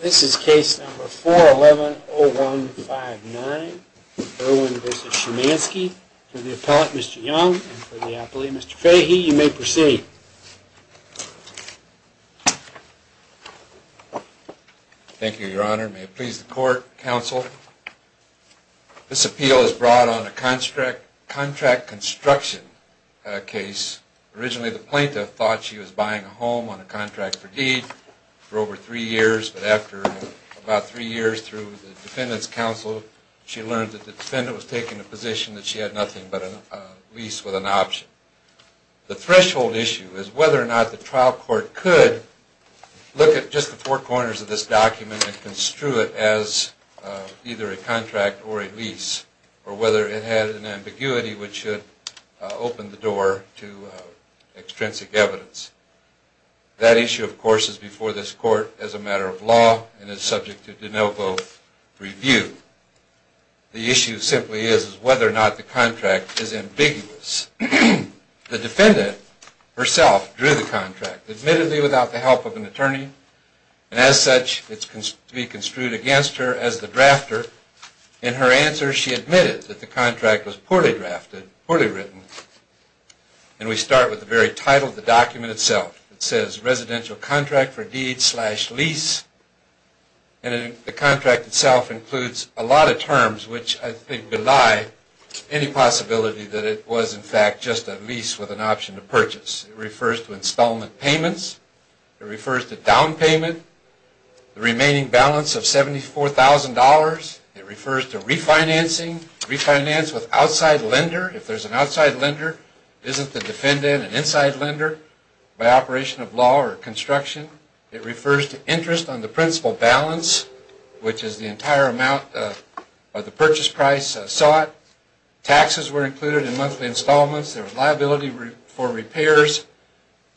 This is case number 411-0159, Irwin v. Shymansky. For the appellate Mr. Young and for the appellate Mr. Fahey, you may proceed. Thank you, your honor. May it please the court, counsel. This appeal is brought on a contract construction case. Originally the plaintiff thought she was buying a home on a contract for deed for over three years, but after about three years through the defendant's counsel, she learned that the defendant was taking a position that she had nothing but a lease with an option. The threshold issue is whether or not the trial court could look at just the four corners of this document and construe it as either a contract or a lease, or whether it had an ambiguity which should open the door to extrinsic evidence. That issue, of course, is before this court as a matter of law and is subject to de novo review. The issue simply is whether or not the contract is ambiguous. The defendant herself drew the contract, admittedly without the help of an attorney, and as such it can be construed against her as the drafter. In her answer she admitted that the contract was poorly drafted, poorly written, and we start with the very title of the document itself. It says residential contract for deed slash lease, and the contract itself includes a lot of terms which I think belie any possibility that it was in fact just a lease with an option to purchase. It refers to installment payments. It refers to down payment, the remaining balance of $74,000. It refers to refinancing, refinance with outside lender. If there's an outside lender, isn't the defendant an inside lender by operation of law or construction? It refers to interest on the principal balance, which is the entire amount of the purchase price sought. Taxes were included in monthly installments. There was liability for repairs.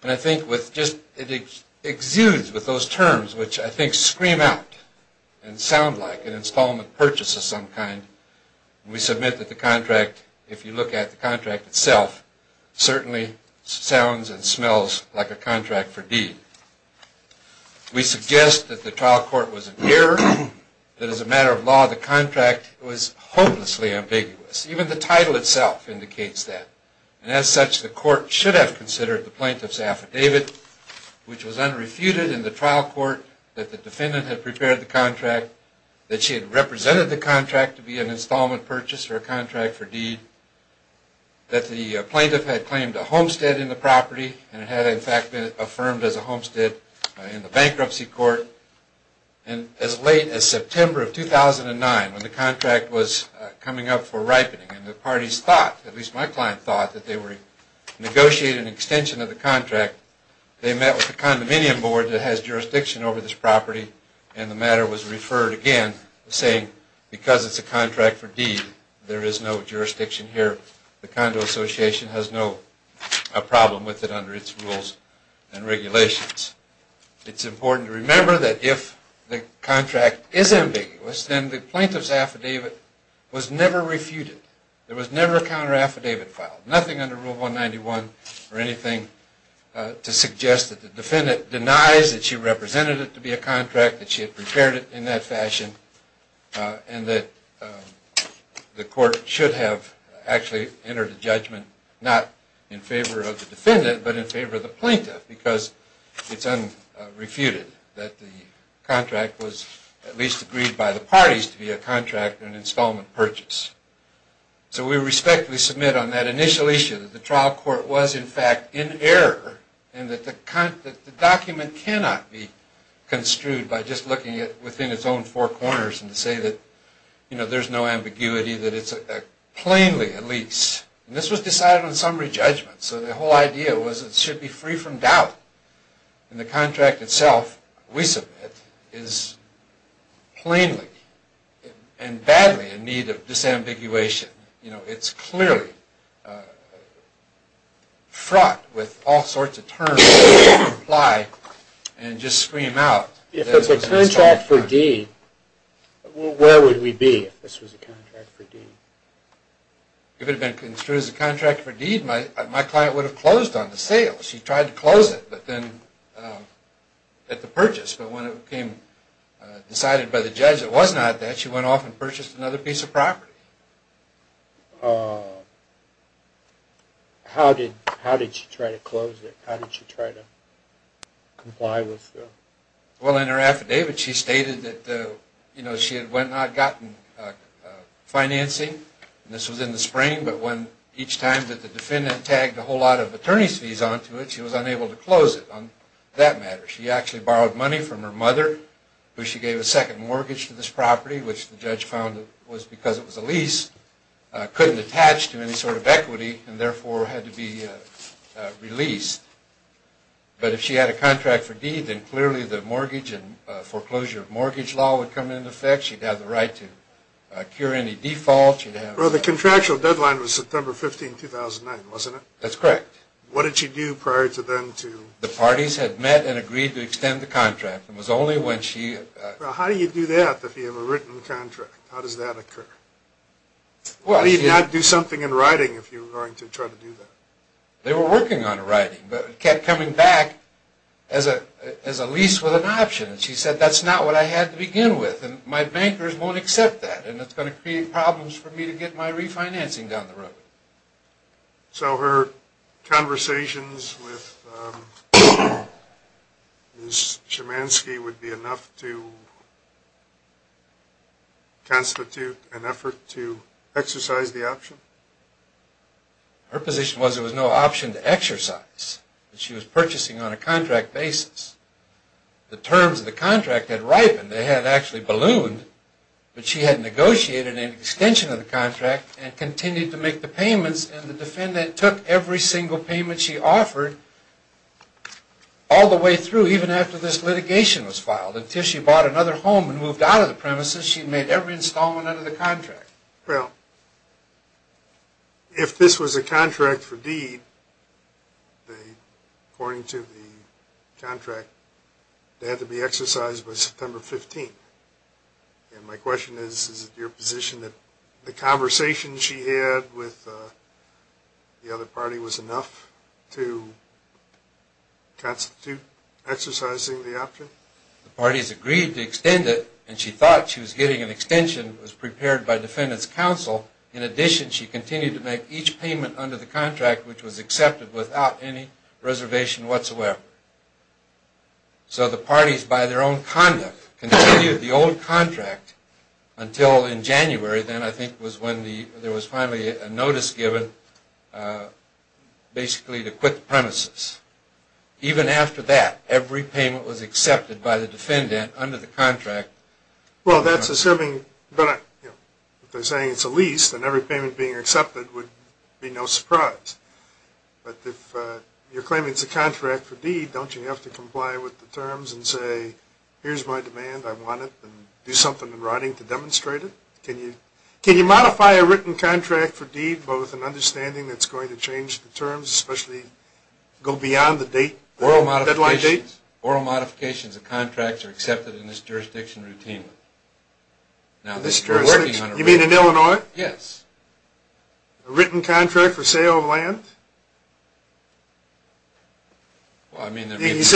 And I think it exudes with those terms which I think scream out and sound like an installment purchase of some kind. We submit that the contract, if you look at the contract itself, certainly sounds and smells like a contract for deed. We suggest that the trial court was in error, that as a matter of law the contract was hopelessly ambiguous. Even the title itself indicates that. And as such, the court should have considered the plaintiff's affidavit, which was unrefuted in the trial court that the defendant had prepared the contract, that she had represented the contract to be an installment purchase or a contract for deed, that the plaintiff had claimed a homestead in the property and it had in fact been affirmed as a homestead in the bankruptcy court. And as late as September of 2009, when the contract was coming up for ripening and the parties thought, at least my client thought, that they were negotiating an extension of the contract, they met with the condominium board that has jurisdiction over this property and the matter was referred again, saying because it's a contract for deed, there is no jurisdiction here. The condo association has no problem with it under its rules and regulations. It's important to remember that if the contract is ambiguous, then the plaintiff's affidavit was never refuted. There was never a counter affidavit filed. Nothing under Rule 191 or anything to suggest that the defendant denies that she represented it to be a contract, that she had prepared it in that fashion, and that the court should have actually entered a judgment not in favor of the defendant, but in favor of the plaintiff because it's unrefuted that the contract was at least agreed by the parties to be a contract and an installment purchase. So we respectfully submit on that initial issue that the trial court was in fact in error and that the document cannot be construed by just looking at it within its own four corners and to say that, you know, there's no ambiguity, that it's plainly at least, and this was decided on summary judgment, so the whole idea was it should be free from doubt. And the contract itself, we submit, is plainly and badly in need of disambiguation. You know, it's clearly fraught with all sorts of terms that apply and just scream out. If it's a contract for deed, where would we be if this was a contract for deed? If it had been construed as a contract for deed, my client would have closed on the sale. She tried to close it, but then at the purchase, but when it became decided by the judge it was not that, she went off and purchased another piece of property. How did she try to close it? How did she try to comply with the… Well, in her affidavit she stated that, you know, she had went and gotten financing, and this was in the spring, but when each time that the defendant tagged a whole lot of attorney's fees onto it, she was unable to close it on that matter. She actually borrowed money from her mother, who she gave a second mortgage to this property, which the judge found was because it was a lease, couldn't attach to any sort of equity, and therefore had to be released. But if she had a contract for deed, then clearly the mortgage and foreclosure of mortgage law would come into effect. She'd have the right to cure any default. Well, the contractual deadline was September 15, 2009, wasn't it? That's correct. What did she do prior to then to… The parties had met and agreed to extend the contract. It was only when she… Well, how do you do that if you have a written contract? How does that occur? Well… How do you not do something in writing if you were going to try to do that? They were working on it in writing, but it kept coming back as a lease with an option. She said, that's not what I had to begin with, and my bankers won't accept that, and it's going to create problems for me to get my refinancing down the road. So her conversations with Ms. Chemanski would be enough to constitute an effort to exercise the option? Her position was there was no option to exercise. She was purchasing on a contract basis. The terms of the contract had ripened. They had actually ballooned, but she had negotiated an extension of the contract and continued to make the payments, and the defendant took every single payment she offered all the way through, even after this litigation was filed. Until she bought another home and moved out of the premises, she made every installment under the contract. Well, if this was a contract for deed, according to the contract, it had to be exercised by September 15th. And my question is, is it your position that the conversation she had with the other party was enough to constitute exercising the option? The parties agreed to extend it, and she thought she was getting an extension, which was prepared by defendant's counsel. In addition, she continued to make each payment under the contract, which was accepted without any reservation whatsoever. So the parties, by their own conduct, continued the old contract until in January, then I think was when there was finally a notice given basically to quit the premises. Even after that, every payment was accepted by the defendant under the contract. Well, that's assuming that they're saying it's a lease, then every payment being accepted would be no surprise. But if you're claiming it's a contract for deed, don't you have to comply with the terms and say, here's my demand, I want it, and do something in writing to demonstrate it? Can you modify a written contract for deed, but with an understanding that's going to change the terms, especially go beyond the deadline date? Oral modifications of contracts are accepted in this jurisdiction routinely. You mean in Illinois? Yes. A written contract for sale of land? I mean, it's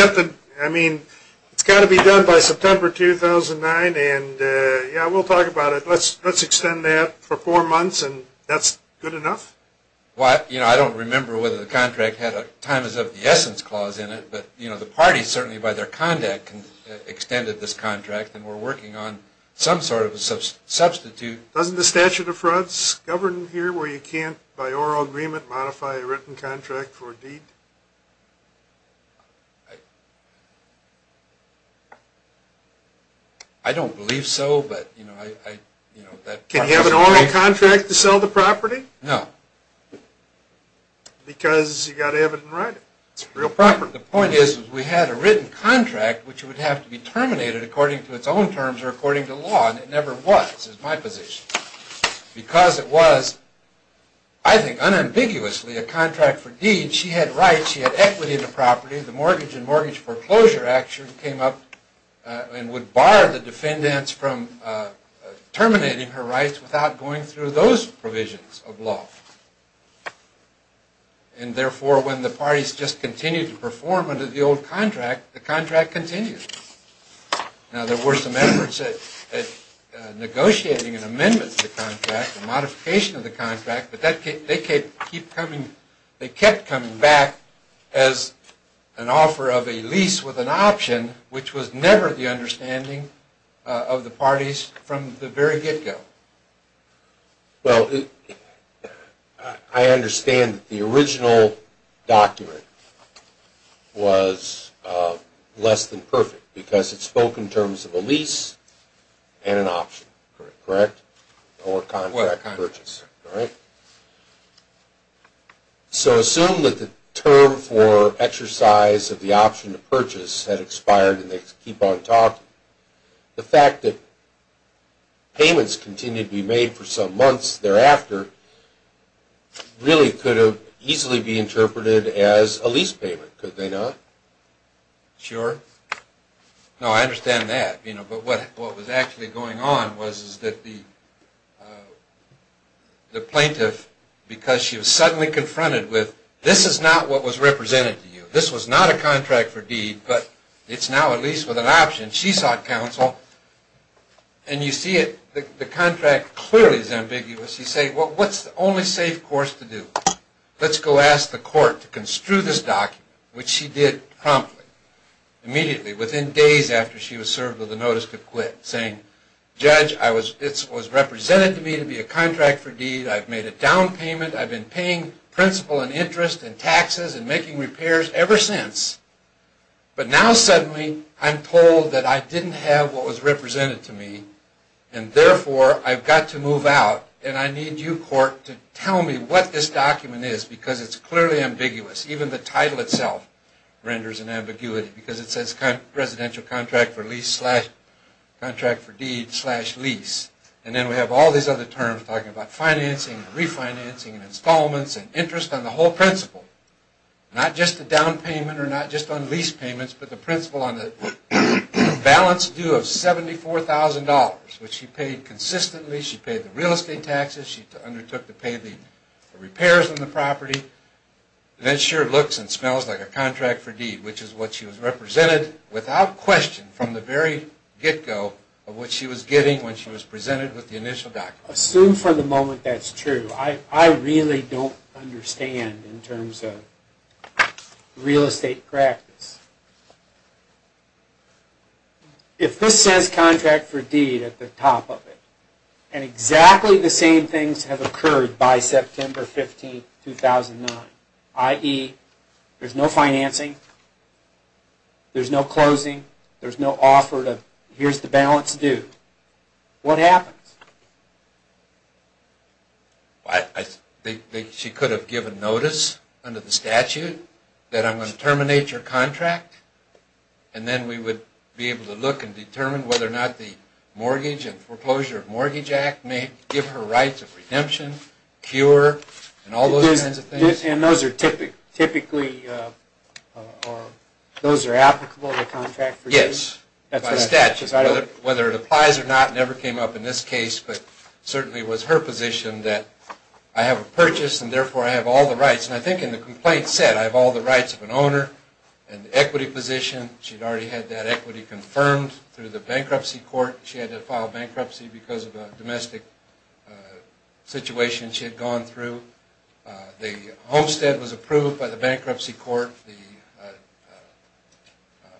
got to be done by September 2009, and yeah, we'll talk about it. Let's extend that for four months, and that's good enough? I don't remember whether the contract had a time is of the essence clause in it, but the party, certainly by their conduct, extended this contract, and we're working on some sort of a substitute. Doesn't the statute of frauds govern here where you can't, by oral agreement, modify a written contract for a deed? I don't believe so, but, you know, I – Can you have an oral contract to sell the property? No. Because you've got to have it in writing. The point is, we had a written contract, which would have to be terminated according to its own terms or according to law, and it never was, is my position. Because it was, I think unambiguously, a contract for deeds, she had rights, she had equity in the property, the mortgage and mortgage foreclosure action came up and would bar the defendants from terminating her rights without going through those provisions of law. And therefore, when the parties just continued to perform under the old contract, the contract continued. Now, there were some efforts at negotiating an amendment to the contract, a modification of the contract, but they kept coming back as an offer of a lease with an option, which was never the understanding of the parties from the very get-go. Well, I understand that the original document was less than perfect because it spoke in terms of a lease and an option, correct? Or contract purchase. Correct. So assume that the term for exercise of the option to purchase had expired and they keep on talking. The fact that payments continued to be made for some months thereafter really could have easily be interpreted as a lease payment, could they not? Sure. No, I understand that. But what was actually going on was that the plaintiff, because she was suddenly confronted with, this is not what was represented to you, this was not a contract for deed, but it's now a lease with an option. She sought counsel. And you see the contract clearly is ambiguous. You say, well, what's the only safe course to do? Let's go ask the court to construe this document, which she did promptly, immediately, within days after she was served with a notice to quit, saying, Judge, this was represented to me to be a contract for deed. I've made a down payment. I've been paying principal and interest and taxes and making repairs ever since. But now suddenly I'm told that I didn't have what was represented to me and therefore I've got to move out. And I need you, court, to tell me what this document is, because it's clearly ambiguous. Even the title itself renders an ambiguity, because it says residential contract for lease slash contract for deed slash lease. And then we have all these other terms talking about financing and refinancing and installments and interest on the whole principal. Not just the down payment or not just on lease payments, but the principal on the balance due of $74,000, which she paid consistently. She paid the real estate taxes. She undertook to pay the repairs on the property. And it sure looks and smells like a contract for deed, which is what she was represented without question from the very get-go of what she was getting when she was presented with the initial document. Assume for the moment that's true. I really don't understand in terms of real estate practice. If this says contract for deed at the top of it, and exactly the same things have occurred by September 15, 2009, i.e. there's no financing, there's no closing, there's no offer of here's the balance due, what happens? I think she could have given notice under the statute that I'm going to terminate your contract, and then we would be able to look and determine whether or not the Mortgage and Foreclosure Mortgage Act may give her rights of redemption, cure, and all those kinds of things. And those are applicable to contract for deed? Yes, by statute. Whether it applies or not never came up in this case, but certainly it was her position that I have a purchase and therefore I have all the rights. And I think in the complaint said I have all the rights of an owner and the equity position. She'd already had that equity confirmed through the bankruptcy court. She had to file bankruptcy because of a domestic situation she had gone through. The homestead was approved by the bankruptcy court.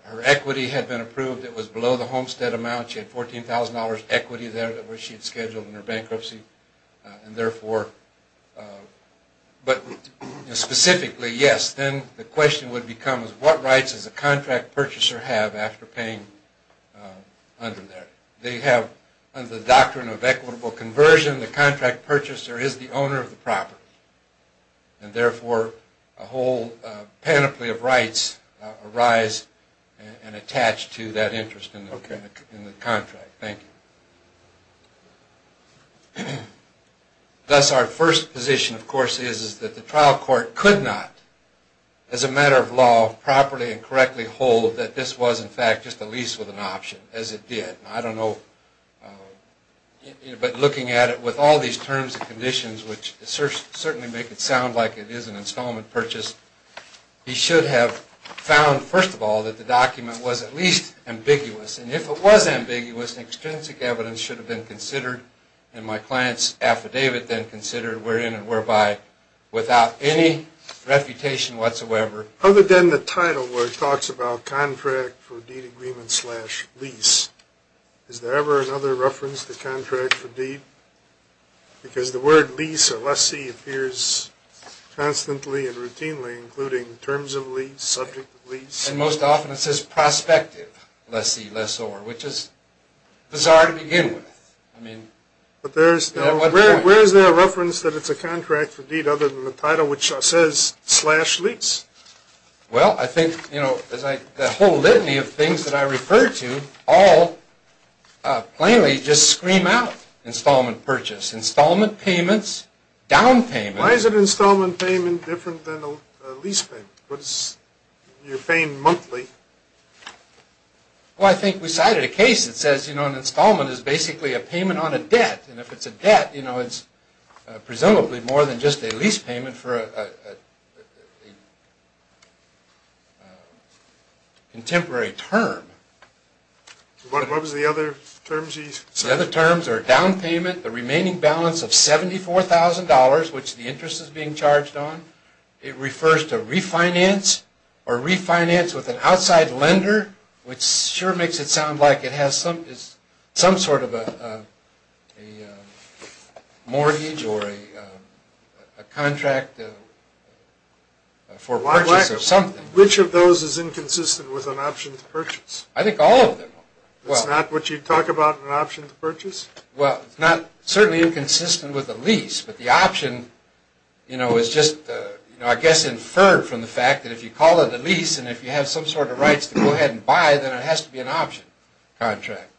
Her equity had been approved. It was below the homestead amount. She had $14,000 equity there that she had scheduled in her bankruptcy. But specifically, yes, then the question would become what rights does a contract purchaser have after paying under there? They have the doctrine of equitable conversion. The person in the contract purchaser is the owner of the property, and therefore a whole panoply of rights arise and attach to that interest in the contract. Thank you. Thus, our first position, of course, is that the trial court could not, as a matter of law, properly and correctly hold that this was, in fact, just a lease with an option, as it did. I don't know. But looking at it with all these terms and conditions, which certainly make it sound like it is an installment purchase, he should have found, first of all, that the document was at least ambiguous. And if it was ambiguous, extrinsic evidence should have been considered, and my client's affidavit then considered, wherein and whereby without any refutation whatsoever. Other than the title where it talks about contract for deed agreement slash lease, is there ever another reference to contract for deed? Because the word lease or lessee appears constantly and routinely, including terms of lease, subject of lease. And most often it says prospective lessee, lessor, which is bizarre to begin with. But where is there a reference that it's a contract for deed other than the title which says slash lease? Well, I think the whole litany of things that I refer to all plainly just scream out installment purchase, installment payments, down payment. Why is an installment payment different than a lease payment? You're paying monthly. Well, I think we cited a case that says an installment is basically a payment on a debt. And if it's a debt, it's presumably more than just a lease payment for a contemporary term. What was the other terms you cited? The other terms are down payment, the remaining balance of $74,000, which the interest is being charged on. It refers to refinance or refinance with an outside lender, which sure makes it sound like it has some sort of a mortgage or a contract for purchase or something. Which of those is inconsistent with an option to purchase? I think all of them are. It's not what you talk about in an option to purchase? Well, it's not certainly inconsistent with a lease, but the option is just, I guess, inferred from the fact that if you call it a lease and if you have some sort of rights to go ahead and buy, then it has to be an option contract.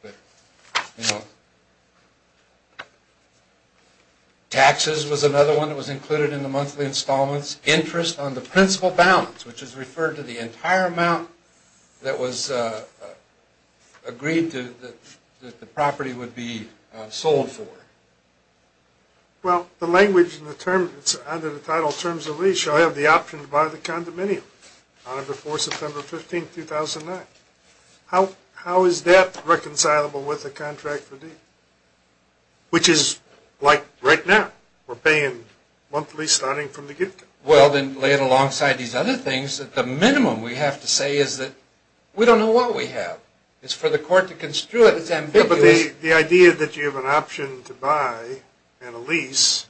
Taxes was another one that was included in the monthly installments. Interest on the principal balance, which is referred to the entire amount that was agreed to, that the property would be sold for. Well, the language in the term, it's under the title Terms of Lease. So I have the option to buy the condominium on or before September 15, 2009. How is that reconcilable with the contract for deed? Which is like right now. We're paying monthly starting from the gift card. Well, then lay it alongside these other things. The minimum we have to say is that we don't know what we have. It's for the court to construe it. It's ambiguous. The idea that you have an option to buy and a lease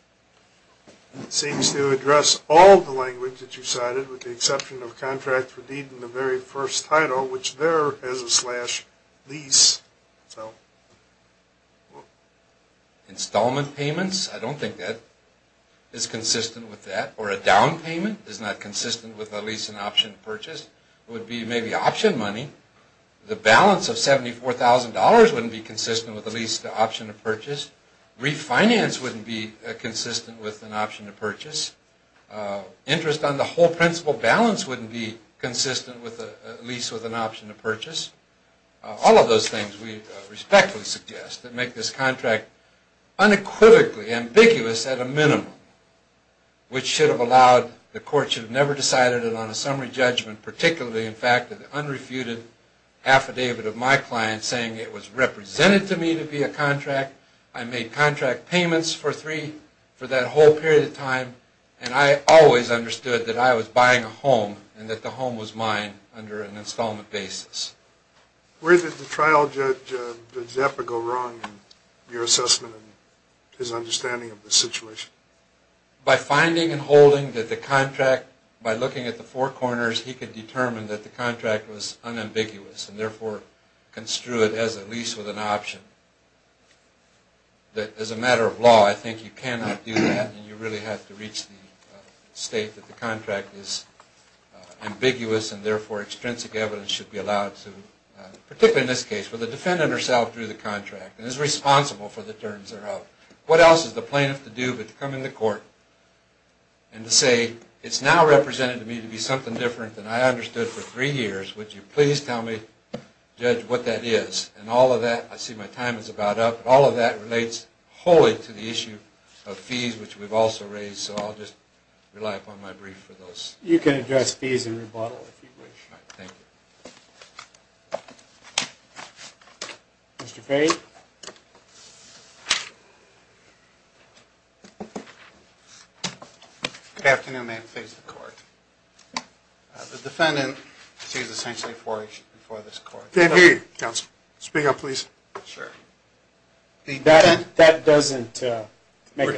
seems to address all the language that you cited with the exception of contract for deed in the very first title, which there is a slash lease. Installment payments, I don't think that is consistent with that. Or a down payment is not consistent with a lease and option purchase. It would be maybe option money. The balance of $74,000 wouldn't be consistent with a lease to option to purchase. Refinance wouldn't be consistent with an option to purchase. Interest on the whole principal balance wouldn't be consistent with a lease with an option to purchase. All of those things we respectfully suggest that make this contract unequivocally ambiguous at a minimum, which should have allowed the court should have never decided it on a summary judgment, particularly in fact of the unrefuted affidavit of my client saying it was represented to me to be a contract. I made contract payments for three for that whole period of time, and I always understood that I was buying a home and that the home was mine under an installment basis. Where did the trial judge go wrong in your assessment and his understanding of the situation? By finding and holding that the contract, by looking at the four corners, he could determine that the contract was unambiguous and therefore construed as a lease with an option. As a matter of law, I think you cannot do that and you really have to reach the state that the contract is ambiguous and therefore extrinsic evidence should be allowed to, particularly in this case, where the defendant herself drew the contract and is responsible for the terms that are out. What else is the plaintiff to do but to come into court and to say, it's now represented to me to be something different than I understood for three years. Would you please tell me, judge, what that is? And all of that, I see my time is about up. All of that relates wholly to the issue of fees, which we've also raised. So I'll just rely upon my brief for those. You can address fees and rebuttal if you wish. Thank you. Mr. Fahy. Good afternoon, ma'am. Please record. The defendant sees essentially for this court. Can't hear you, counsel. Speak up, please. Sure. That doesn't make a difference.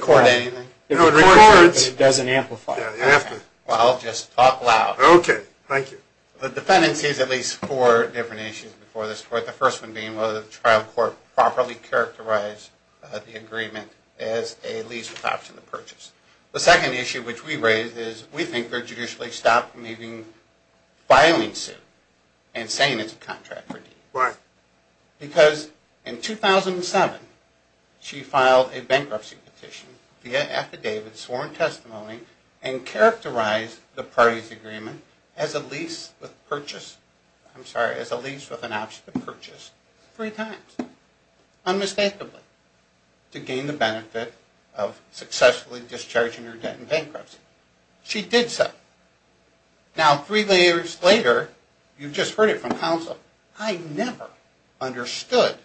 Record anything? No, it records. It doesn't amplify. Yeah, you have to. Well, I'll just talk loud. Okay. Thank you. The defendant sees at least four different issues before this court, the first one being whether the trial court properly characterized the agreement as a lease with option of purchase. The second issue, which we raised, is we think they're judicially stopped from even filing suit and saying it's a contract for deed. Why? Because in 2007, she filed a bankruptcy petition via affidavit, sworn testimony, and characterized the parties' agreement as a lease with purchase. I'm sorry, as a lease with an option of purchase three times, unmistakably, to gain the benefit of successfully discharging her debt in bankruptcy. She did so. Now, three years later, you just heard it from counsel, I never understood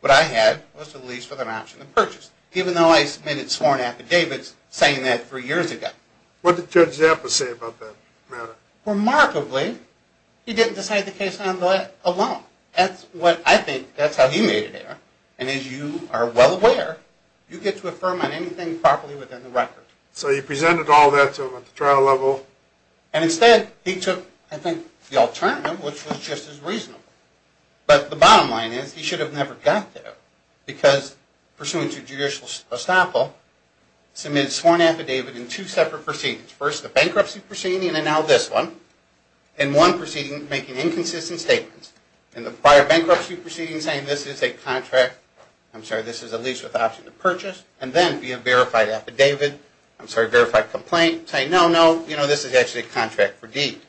what I had was a lease with an option of purchase, even though I submitted sworn affidavits saying that three years ago. What did Judge Zappa say about that matter? Remarkably, he didn't decide the case on that alone. That's what I think, that's how he made it there. And as you are well aware, you get to affirm on anything properly within the record. So you presented all that to him at the trial level. And instead, he took, I think, the alternative, which was just as reasonable. But the bottom line is, he should have never got there because, pursuant to judicial estoppel, submitted a sworn affidavit in two separate proceedings. First, the bankruptcy proceeding, and then now this one. In one proceeding, making inconsistent statements. In the prior bankruptcy proceeding, saying this is a contract, I'm sorry, this is a lease with option of purchase. And then, via verified affidavit, I'm sorry, verified complaint, saying no, no, you know, this is actually a contract for deed.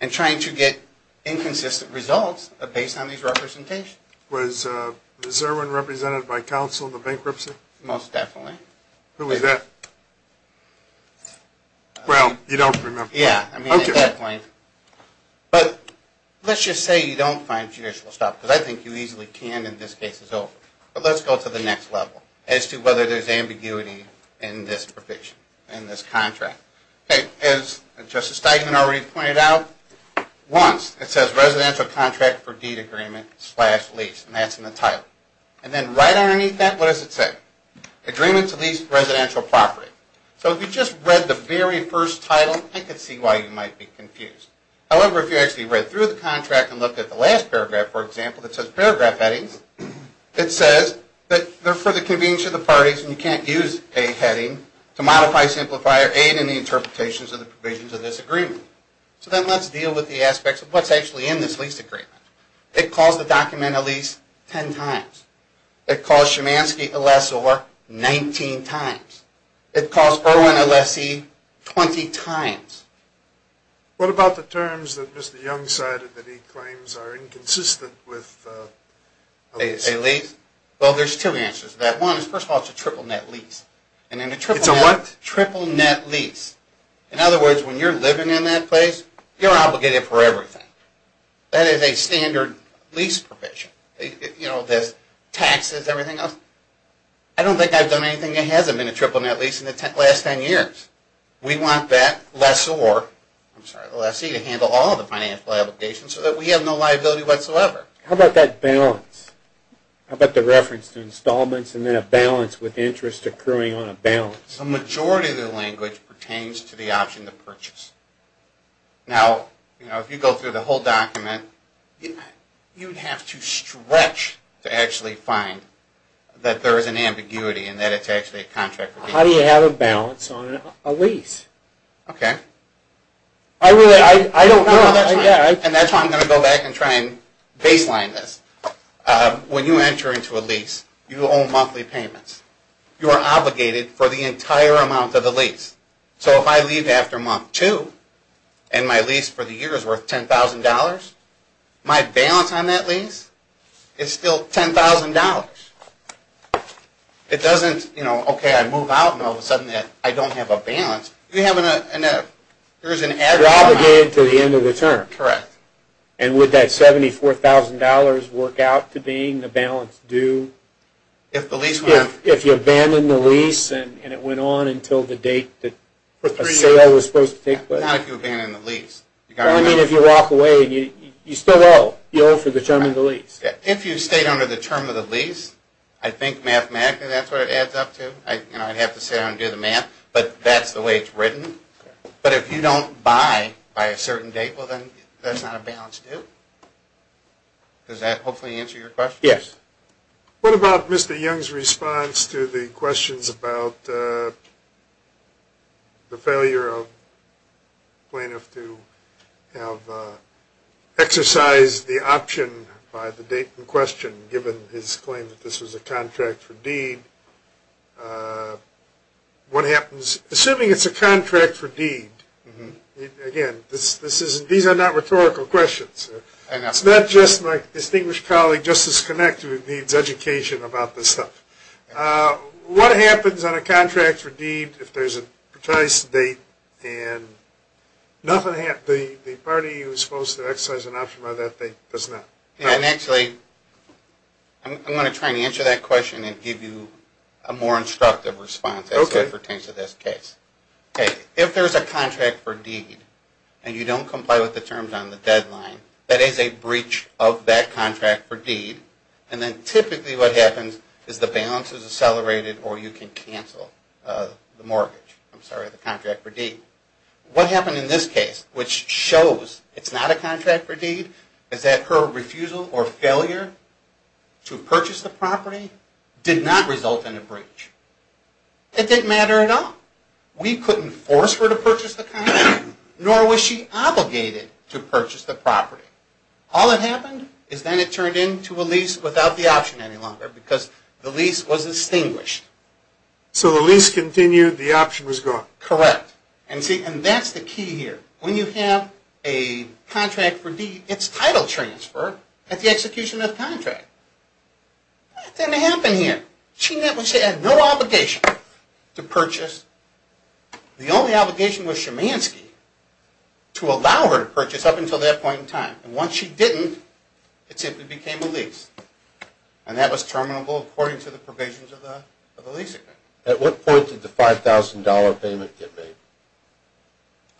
And trying to get inconsistent results based on these representations. Was there one represented by counsel in the bankruptcy? Most definitely. Who was that? Well, you don't remember. Yeah, I mean, at that point. But let's just say you don't find judicial estoppel, because I think you easily can in this case as well. But let's go to the next level, as to whether there's ambiguity in this provision, in this contract. As Justice Steigman already pointed out, Once, it says residential contract for deed agreement slash lease, and that's in the title. And then right underneath that, what does it say? Agreement to lease residential property. So if you just read the very first title, I can see why you might be confused. However, if you actually read through the contract and looked at the last paragraph, for example, that says paragraph headings, it says that they're for the convenience of the parties, and you can't use a heading to modify, simplify, or aid in the interpretations of the provisions of this agreement. So then let's deal with the aspects of what's actually in this lease agreement. It calls the document a lease ten times. It calls Chomansky a lessor 19 times. It calls Irwin a lessee 20 times. What about the terms that Mr. Young cited that he claims are inconsistent with a lease? A lease? Well, there's two answers to that. One is, first of all, it's a triple net lease. It's a what? Triple net lease. In other words, when you're living in that place, you're obligated for everything. That is a standard lease provision. You know, there's taxes, everything else. I don't think I've done anything that hasn't been a triple net lease in the last ten years. We want that lessor, I'm sorry, the lessee, to handle all of the financial obligations so that we have no liability whatsoever. How about that balance? How about the reference to installments and then a balance with interest accruing on a balance? The majority of the language pertains to the option to purchase. Now, you know, if you go through the whole document, you'd have to stretch to actually find that there is an ambiguity and that it's actually a contract for lease. How do you have a balance on a lease? Okay. I really, I don't know. And that's why I'm going to go back and try and baseline this. When you enter into a lease, you own monthly payments. You are obligated for the entire amount of the lease. So if I leave after month two and my lease for the year is worth $10,000, my balance on that lease is still $10,000. It doesn't, you know, okay, I move out and all of a sudden I don't have a balance. You have an, there's an added amount. You're obligated to the end of the term. Correct. And would that $74,000 work out to being the balance due? If the lease went up. If you abandon the lease and it went on until the date that a sale was supposed to take place. Not if you abandon the lease. I mean if you walk away and you still owe. You owe for the term of the lease. If you stayed under the term of the lease, I think mathematically that's what it adds up to. You know, I'd have to sit down and do the math. But that's the way it's written. But if you don't buy by a certain date, well then that's not a balance due. Does that hopefully answer your question? Yes. What about Mr. Young's response to the questions about the failure of a plaintiff to have exercised the option by the date in question given his claim that this was a contract for deed? What happens, assuming it's a contract for deed, again, these are not rhetorical questions. It's not just my distinguished colleague, Justice Kinect, who needs education about this stuff. What happens on a contract for deed if there's a precise date and nothing happens? The party who is supposed to exercise an option by that date does not. Actually, I'm going to try and answer that question and give you a more instructive response as it pertains to this case. If there's a contract for deed and you don't comply with the terms on the deadline, that is a breach of that contract for deed. And then typically what happens is the balance is accelerated or you can cancel the contract for deed. What happened in this case, which shows it's not a contract for deed, is that her refusal or failure to purchase the property did not result in a breach. It didn't matter at all. We couldn't force her to purchase the property, nor was she obligated to purchase the property. All that happened is then it turned into a lease without the option any longer because the lease was extinguished. So the lease continued, the option was gone. Correct. And that's the key here. When you have a contract for deed, it's title transfer at the execution of the contract. That didn't happen here. She had no obligation to purchase. The only obligation was Shemansky to allow her to purchase up until that point in time. And once she didn't, it simply became a lease. And that was terminable according to the provisions of the lease agreement. At what point did the $5,000 payment get made?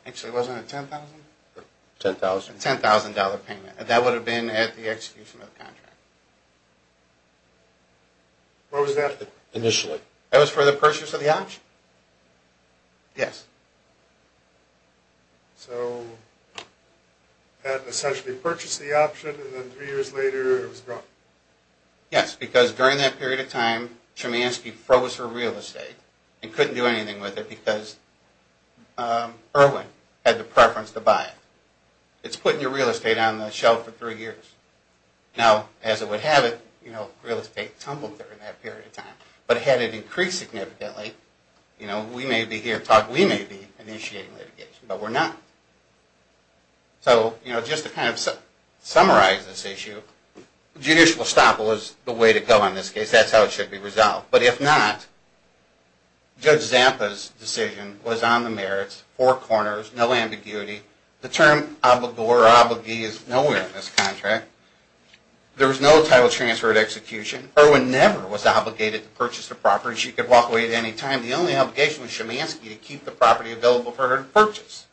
Actually, wasn't it $10,000? $10,000. $10,000 payment. That would have been at the execution of the contract. What was that initially? That was for the purchase of the option. Yes. So had essentially purchased the option, and then three years later it was gone. Yes, because during that period of time, Shemansky froze her real estate and couldn't do anything with it because Irwin had the preference to buy it. It's putting your real estate on the shelf for three years. Now, as it would have it, real estate tumbled during that period of time. But had it increased significantly, we may be initiating litigation, but we're not. So just to kind of summarize this issue, judicial estoppel is the way to go in this case. That's how it should be resolved. But if not, Judge Zappa's decision was on the merits, four corners, no ambiguity. The term obligor or obligee is nowhere in this contract. There was no title transfer at execution. Irwin never was obligated to purchase the property. She could walk away at any time. The only obligation was Shemansky to keep the property available for her to purchase.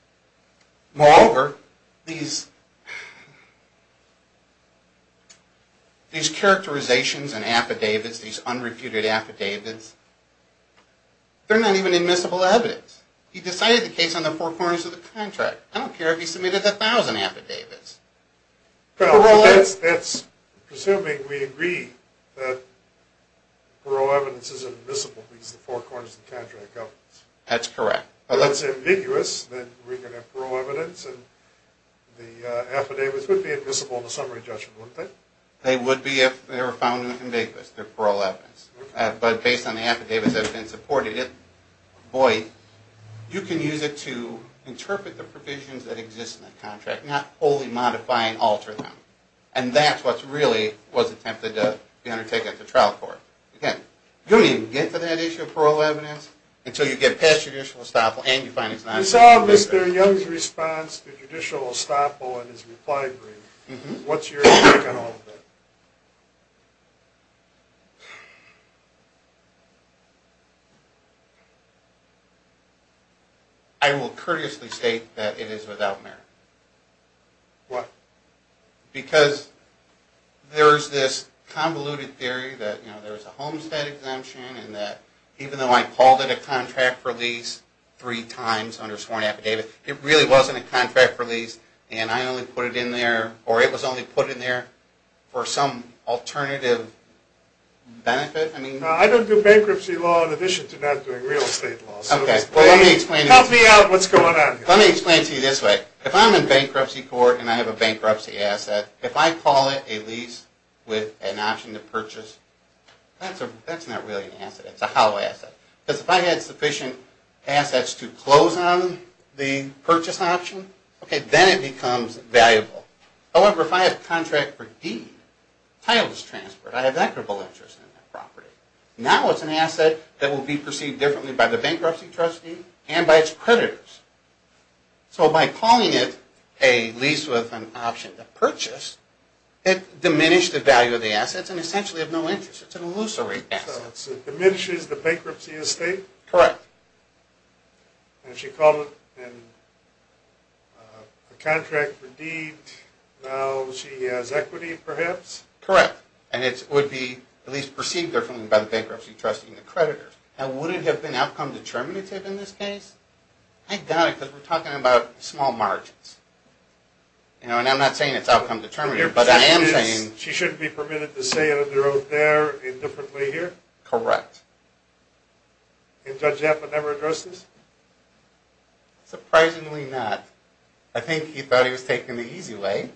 Moreover, these characterizations and affidavits, these unrefuted affidavits, they're not even admissible evidence. He decided the case on the four corners of the contract. I don't care if he submitted a thousand affidavits. Well, that's presuming we agree that parole evidence is admissible because of the four corners of the contract. That's correct. Well, if it's ambiguous, then we can have parole evidence, and the affidavits would be admissible in the summary judgment, wouldn't they? They would be if they were found ambiguous, their parole evidence. But based on the affidavits that have been supported, boy, you can use it to interpret the provisions that exist in the contract, not only modify and alter them. And that's what really was attempted to be undertaken at the trial court. Again, you don't even get to that issue of parole evidence until you get past judicial estoppel and you find it's not. You saw Mr. Young's response to judicial estoppel in his reply brief. What's your take on all of that? I will courteously state that it is without merit. Why? Because there is this convoluted theory that there is a homestead exemption and that even though I called it a contract for lease three times under sworn affidavit, it really wasn't a contract for lease and I only put it in there, or it was only put in there for some alternative benefit. I don't do bankruptcy law in addition to not doing real estate law. Help me out. What's going on here? Let me explain it to you this way. If I'm in bankruptcy court and I have a bankruptcy asset, if I call it a lease with an option to purchase, that's not really an asset. It's a hollow asset. Because if I had sufficient assets to close on the purchase option, then it becomes valuable. However, if I have contract for deed, title is transferred, I have equitable interest in that property. Now it's an asset that will be perceived differently by the bankruptcy trustee and by its creditors. So by calling it a lease with an option to purchase, it diminished the value of the assets and essentially of no interest. It's an illusory asset. So it diminishes the bankruptcy estate? Correct. And if she called it a contract for deed, now she has equity perhaps? Correct. And it would be at least perceived differently by the bankruptcy trustee and the creditors. Now would it have been outcome determinative in this case? I doubt it because we're talking about small margins. And I'm not saying it's outcome determinative. But I am saying. She shouldn't be permitted to say under oath there indifferently here? Correct. And Judge Zappa never addressed this? Surprisingly not. I think he thought he was taking the easy way.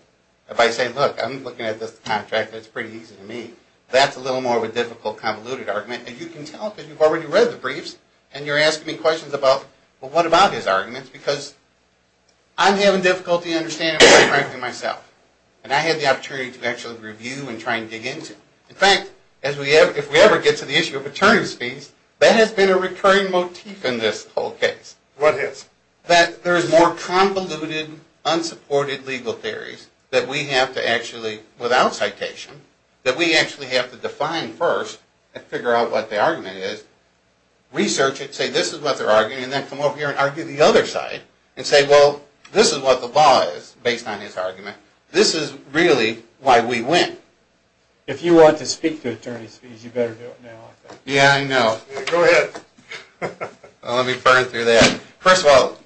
If I say, look, I'm looking at this contract, it's pretty easy to me. That's a little more of a difficult, convoluted argument. And you can tell because you've already read the briefs and you're asking me questions about, well, what about his arguments? Because I'm having difficulty understanding the bankruptcy myself. And I had the opportunity to actually review and try and dig into it. In fact, if we ever get to the issue of attorney's fees, that has been a recurring motif in this whole case. What is? That there is more convoluted, unsupported legal theories that we have to actually, without citation, that we actually have to define first and figure out what the argument is, research it, say this is what they're arguing, and then come over here and argue the other side and say, well, this is what the law is based on his argument. This is really why we win. If you want to speak to attorney's fees, you better do it now. Yeah, I know. Go ahead. Let me burn through that. First of all,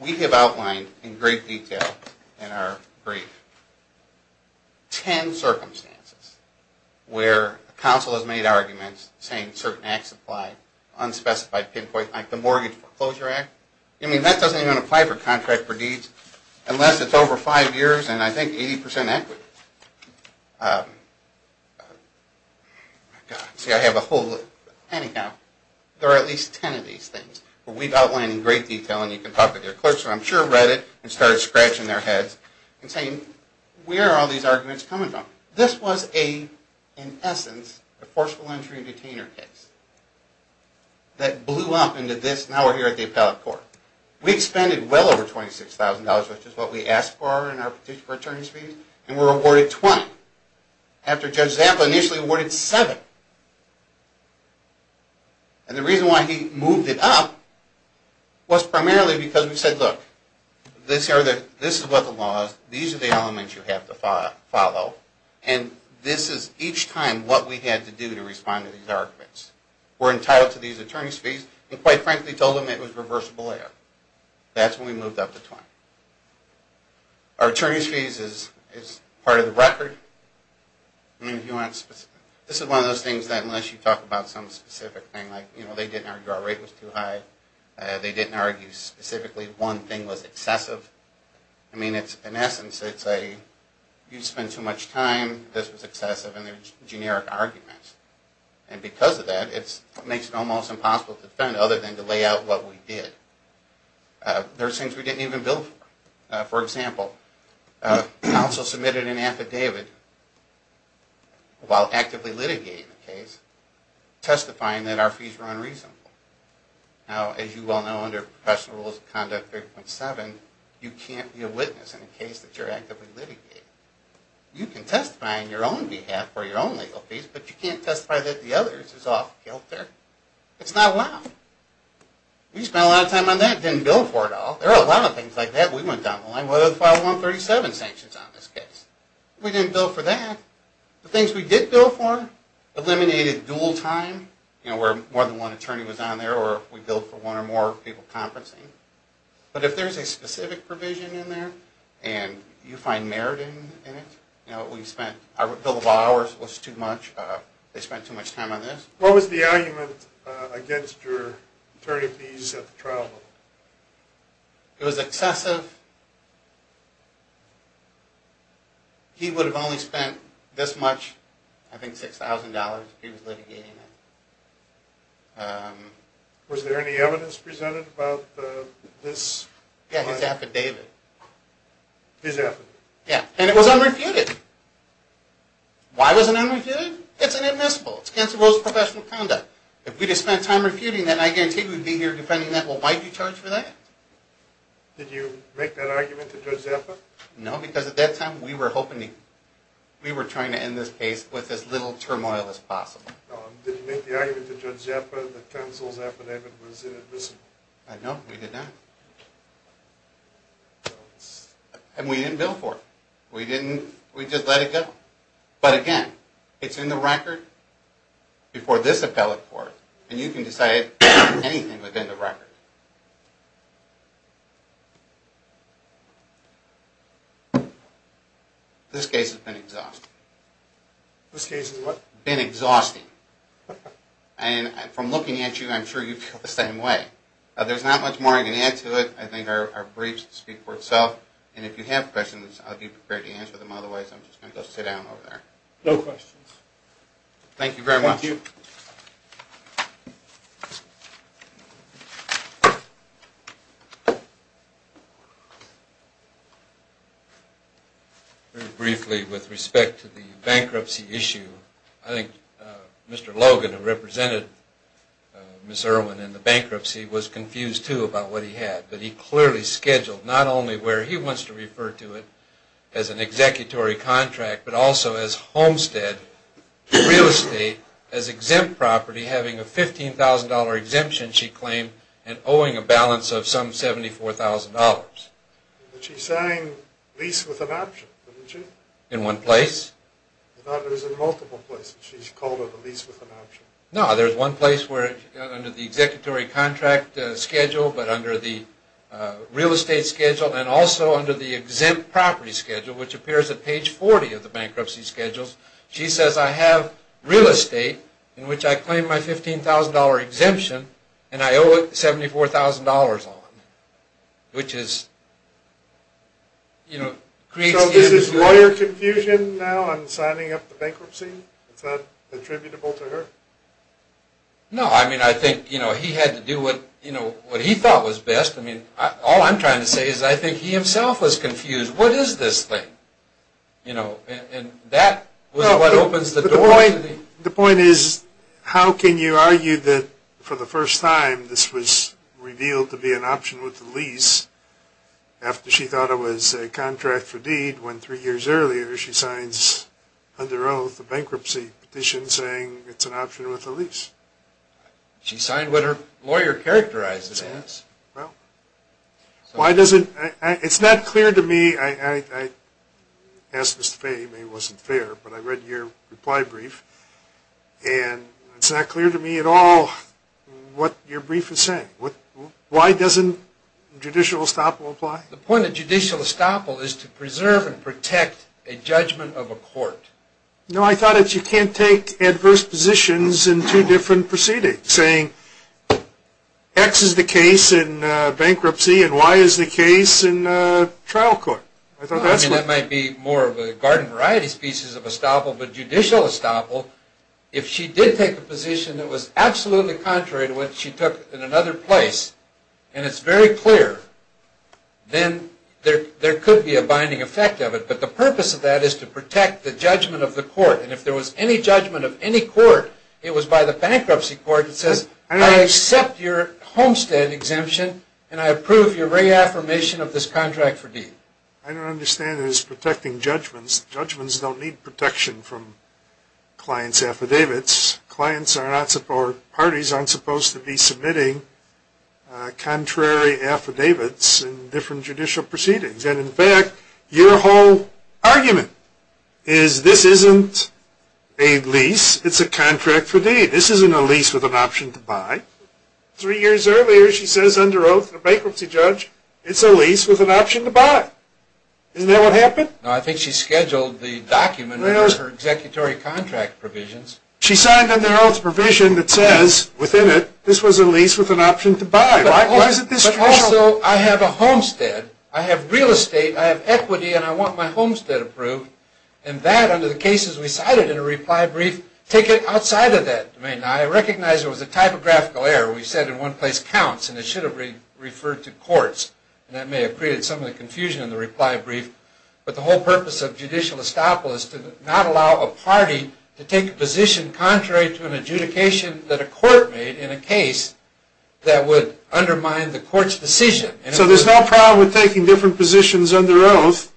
we have outlined in great detail in our brief ten circumstances where counsel has made arguments saying certain acts apply, unspecified pinpoints, like the Mortgage Foreclosure Act. I mean, that doesn't even apply for contract for deeds unless it's over five years and I think 80% equity. See, I have a whole, anyhow, there are at least ten of these things. But we've outlined in great detail, and you can talk to your clerks, who I'm sure read it and started scratching their heads and saying, where are all these arguments coming from? This was a, in essence, a forceful entry and detainer case that blew up into this, and now we're here at the appellate court. We expended well over $26,000, which is what we asked for in our petition for attorney's fees, and were awarded $20,000 after Judge Zappa initially awarded $7,000. And the reason why he moved it up was primarily because we said, look, this is what the law is, these are the elements you have to follow, and this is each time what we had to do to respond to these arguments. We're entitled to these attorney's fees, and quite frankly told them it was reversible error. That's when we moved up the time. Our attorney's fees is part of the record. This is one of those things that unless you talk about some specific thing, like they didn't argue our rate was too high, they didn't argue specifically one thing was excessive. I mean, in essence, it's a, you spend too much time, this was excessive, and they're generic arguments. And because of that, it makes it almost impossible to defend other than to lay out what we did. There are things we didn't even bill for. For example, counsel submitted an affidavit while actively litigating the case, testifying that our fees were unreasonable. Now, as you well know, under professional rules of conduct 3.7, you can't be a witness in a case that you're actively litigating. You can testify on your own behalf for your own legal fees, but you can't testify that the other's is off kilter. It's not allowed. We spent a lot of time on that, didn't bill for it all. There are a lot of things like that we went down the line, whether it's file 137 sanctions on this case. We didn't bill for that. The things we did bill for, eliminated dual time, you know, where more than one attorney was on there, or we billed for one or more people conferencing. But if there's a specific provision in there, and you find merit in it, you know, we spent, our bill of hours was too much, they spent too much time on this. What was the argument against your attorney fees at the trial level? It was excessive. He would have only spent this much, I think $6,000 if he was litigating it. Was there any evidence presented about this? Yeah, his affidavit. His affidavit. Why was it unrefuted? It's inadmissible. It's counsel's rules of professional conduct. If we had spent time refuting that, I guarantee we'd be here defending that. Well, why did you charge for that? Did you make that argument to Judge Zappa? No, because at that time we were hoping to, we were trying to end this case with as little turmoil as possible. Did you make the argument to Judge Zappa that counsel's affidavit was inadmissible? No, we did not. And we didn't bill for it. We just let it go. But again, it's in the record before this appellate court, and you can decide anything within the record. This case has been exhausting. This case has what? Been exhausting. And from looking at you, I'm sure you feel the same way. There's not much more I can add to it. I think our briefs speak for itself. And if you have questions, I'll be prepared to answer them. Otherwise, I'm just going to go sit down over there. No questions. Thank you very much. Thank you. Very briefly, with respect to the bankruptcy issue, I think Mr. Logan, who represented Ms. Irwin in the bankruptcy, was confused, too, about what he had. But he clearly scheduled not only where he wants to refer to it, as an executory contract, but also as homestead, real estate, as exempt property, having a $15,000 exemption, she claimed, and owing a balance of some $74,000. But she's saying lease with an option, isn't she? In one place. I thought it was in multiple places. She's called it a lease with an option. No, there's one place where under the executory contract schedule, but under the real estate schedule, and also under the exempt property schedule, which appears at page 40 of the bankruptcy schedules, she says, I have real estate, in which I claim my $15,000 exemption, and I owe $74,000 on it. Which is, you know, creates... So this is lawyer confusion now on signing up the bankruptcy? It's not attributable to her? No, I mean, I think he had to do what he thought was best. All I'm trying to say is I think he himself was confused. What is this thing? And that was what opens the door. The point is, how can you argue that for the first time, this was revealed to be an option with the lease, after she thought it was a contract for deed, when three years earlier she signs under oath a bankruptcy petition saying it's an option with a lease? She signed what her lawyer characterized as. Well, why doesn't... It's not clear to me, I asked Mr. Fay, maybe it wasn't fair, but I read your reply brief, and it's not clear to me at all what your brief is saying. Why doesn't judicial estoppel apply? The point of judicial estoppel is to preserve and protect a judgment of a court. No, I thought that you can't take adverse positions in two different proceedings, saying X is the case in bankruptcy and Y is the case in trial court. I mean, that might be more of a garden variety species of estoppel, but judicial estoppel, if she did take a position that was absolutely contrary to what she took in another place, and it's very clear, then there could be a binding effect of it. But the purpose of that is to protect the judgment of the court, and if there was any judgment of any court, it was by the bankruptcy court, it says I accept your Homestead exemption and I approve your reaffirmation of this contract for deed. I don't understand it as protecting judgments. Judgments don't need protection from clients' affidavits. Parties aren't supposed to be submitting contrary affidavits in different judicial proceedings. And, in fact, your whole argument is this isn't a lease, it's a contract for deed. This isn't a lease with an option to buy. Three years earlier, she says under oath in a bankruptcy judge, it's a lease with an option to buy. Isn't that what happened? No, I think she scheduled the document with her executory contract provisions. She signed under oath a provision that says, within it, Why is it this strong? Also, I have a homestead. I have real estate, I have equity, and I want my homestead approved. And that, under the cases we cited in a reply brief, take it outside of that domain. Now, I recognize there was a typographical error. We said in one place counts, and it should have referred to courts. And that may have created some of the confusion in the reply brief. But the whole purpose of judicial estoppel is to not allow a party that would undermine the court's decision. So there's no problem with taking different positions under oath,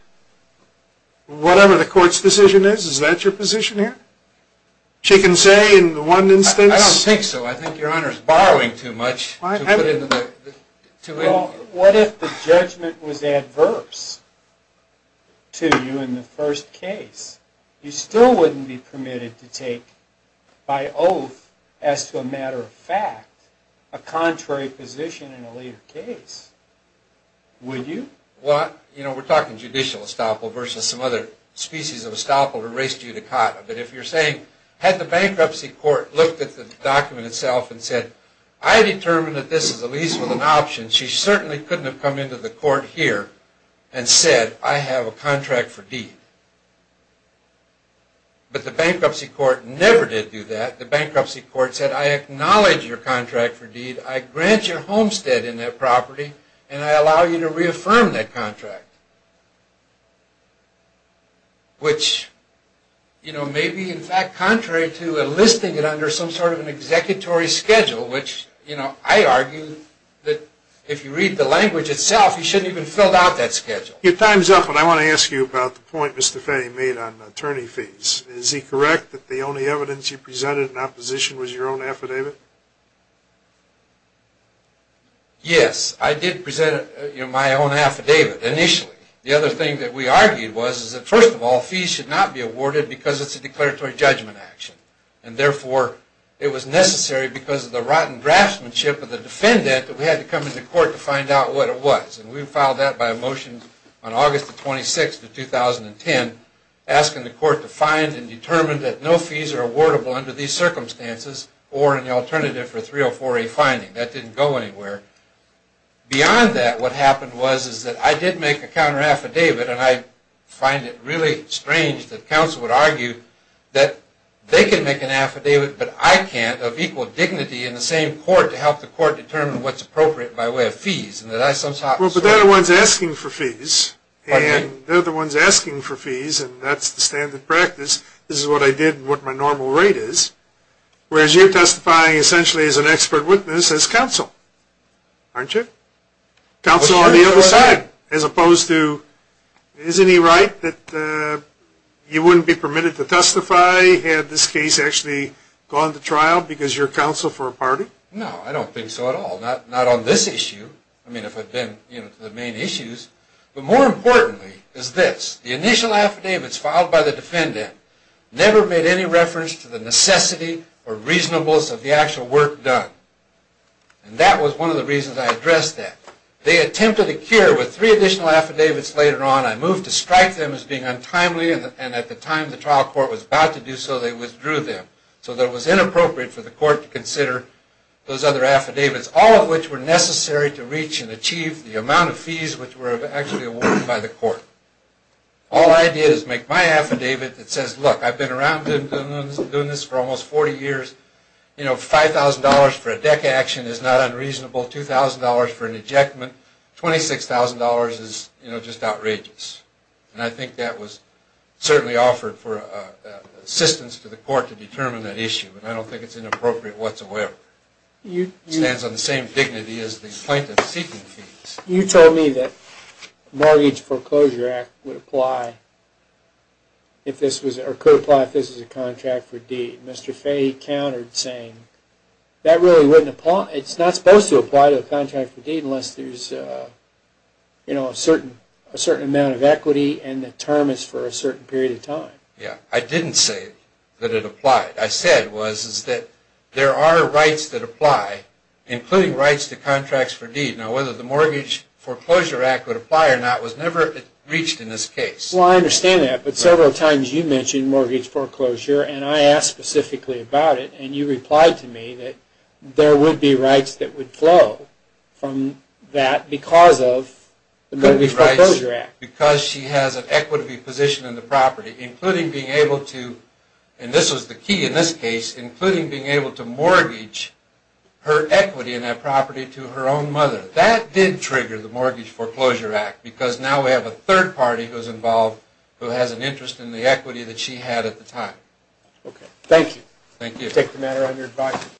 whatever the court's decision is? Is that your position here? Chicken say in one instance? I don't think so. I think your Honor is borrowing too much. Well, what if the judgment was adverse to you in the first case? You still wouldn't be permitted to take, by oath, as to a matter of fact, a contrary position in a later case, would you? Well, you know, we're talking judicial estoppel versus some other species of estoppel, the race judicata. But if you're saying, had the bankruptcy court looked at the document itself and said, I determine that this is a lease with an option, she certainly couldn't have come into the court here and said, I have a contract for deed. But the bankruptcy court never did do that. The bankruptcy court said, I acknowledge your contract for deed. I grant your homestead in that property, and I allow you to reaffirm that contract. Which, you know, may be, in fact, contrary to enlisting it under some sort of an executory schedule, which, you know, I argue that if you read the language itself, you shouldn't even have filled out that schedule. Your time's up, but I want to ask you about the point Mr. Fahey made on attorney fees. Is he correct that the only evidence you presented in opposition was your own affidavit? Yes, I did present my own affidavit initially. The other thing that we argued was that, first of all, fees should not be awarded because it's a declaratory judgment action. And therefore, it was necessary because of the rotten draftsmanship of the defendant that we had to come into court to find out what it was. And we filed that by a motion on August the 26th of 2010, asking the court to find and determine that no fees are awardable under these circumstances or an alternative for a 304A finding. That didn't go anywhere. Beyond that, what happened was that I did make a counteraffidavit, and I find it really strange that counsel would argue that they can make an affidavit, but I can't, of equal dignity in the same court to help the court determine what's appropriate by way of fees. But they're the ones asking for fees, and that's the standard practice. This is what I did and what my normal rate is. Whereas you're testifying essentially as an expert witness as counsel, aren't you? Counsel on the other side, as opposed to, isn't he right that you wouldn't be permitted to testify had this case actually gone to trial because you're counsel for a party? No, I don't think so at all. Not on this issue, if I've been to the main issues. But more importantly is this. The initial affidavits filed by the defendant never made any reference to the necessity or reasonableness of the actual work done. And that was one of the reasons I addressed that. They attempted a cure with three additional affidavits later on. I moved to strike them as being untimely, and at the time the trial court was about to do so, they withdrew them, so that it was inappropriate for the court to consider those other affidavits. All of which were necessary to reach and achieve the amount of fees which were actually awarded by the court. All I did is make my affidavit that says, look, I've been around doing this for almost 40 years. You know, $5,000 for a deck action is not unreasonable. $2,000 for an ejectment. $26,000 is, you know, just outrageous. And I think that was certainly offered for assistance to the court to determine that issue. And I don't think it's inappropriate whatsoever. It stands on the same dignity as the plaintiff's seeking fees. You told me that the Mortgage Foreclosure Act would apply if this was, or could apply if this was a contract for deed. Mr. Fay countered saying that really wouldn't apply. It's not supposed to apply to a contract for deed unless there's, you know, a certain amount of equity and the term is for a certain period of time. Yeah, I didn't say that it applied. What I said was that there are rights that apply, including rights to contracts for deed. Now, whether the Mortgage Foreclosure Act would apply or not was never reached in this case. Well, I understand that, but several times you mentioned mortgage foreclosure and I asked specifically about it, and you replied to me that there would be rights that would flow from that because of the Mortgage Foreclosure Act. Because she has an equity position in the property, including being able to, and this was the key in this case, including being able to mortgage her equity in that property to her own mother. That did trigger the Mortgage Foreclosure Act because now we have a third party who's involved who has an interest in the equity that she had at the time. Okay, thank you. Thank you. I take the matter on your advice.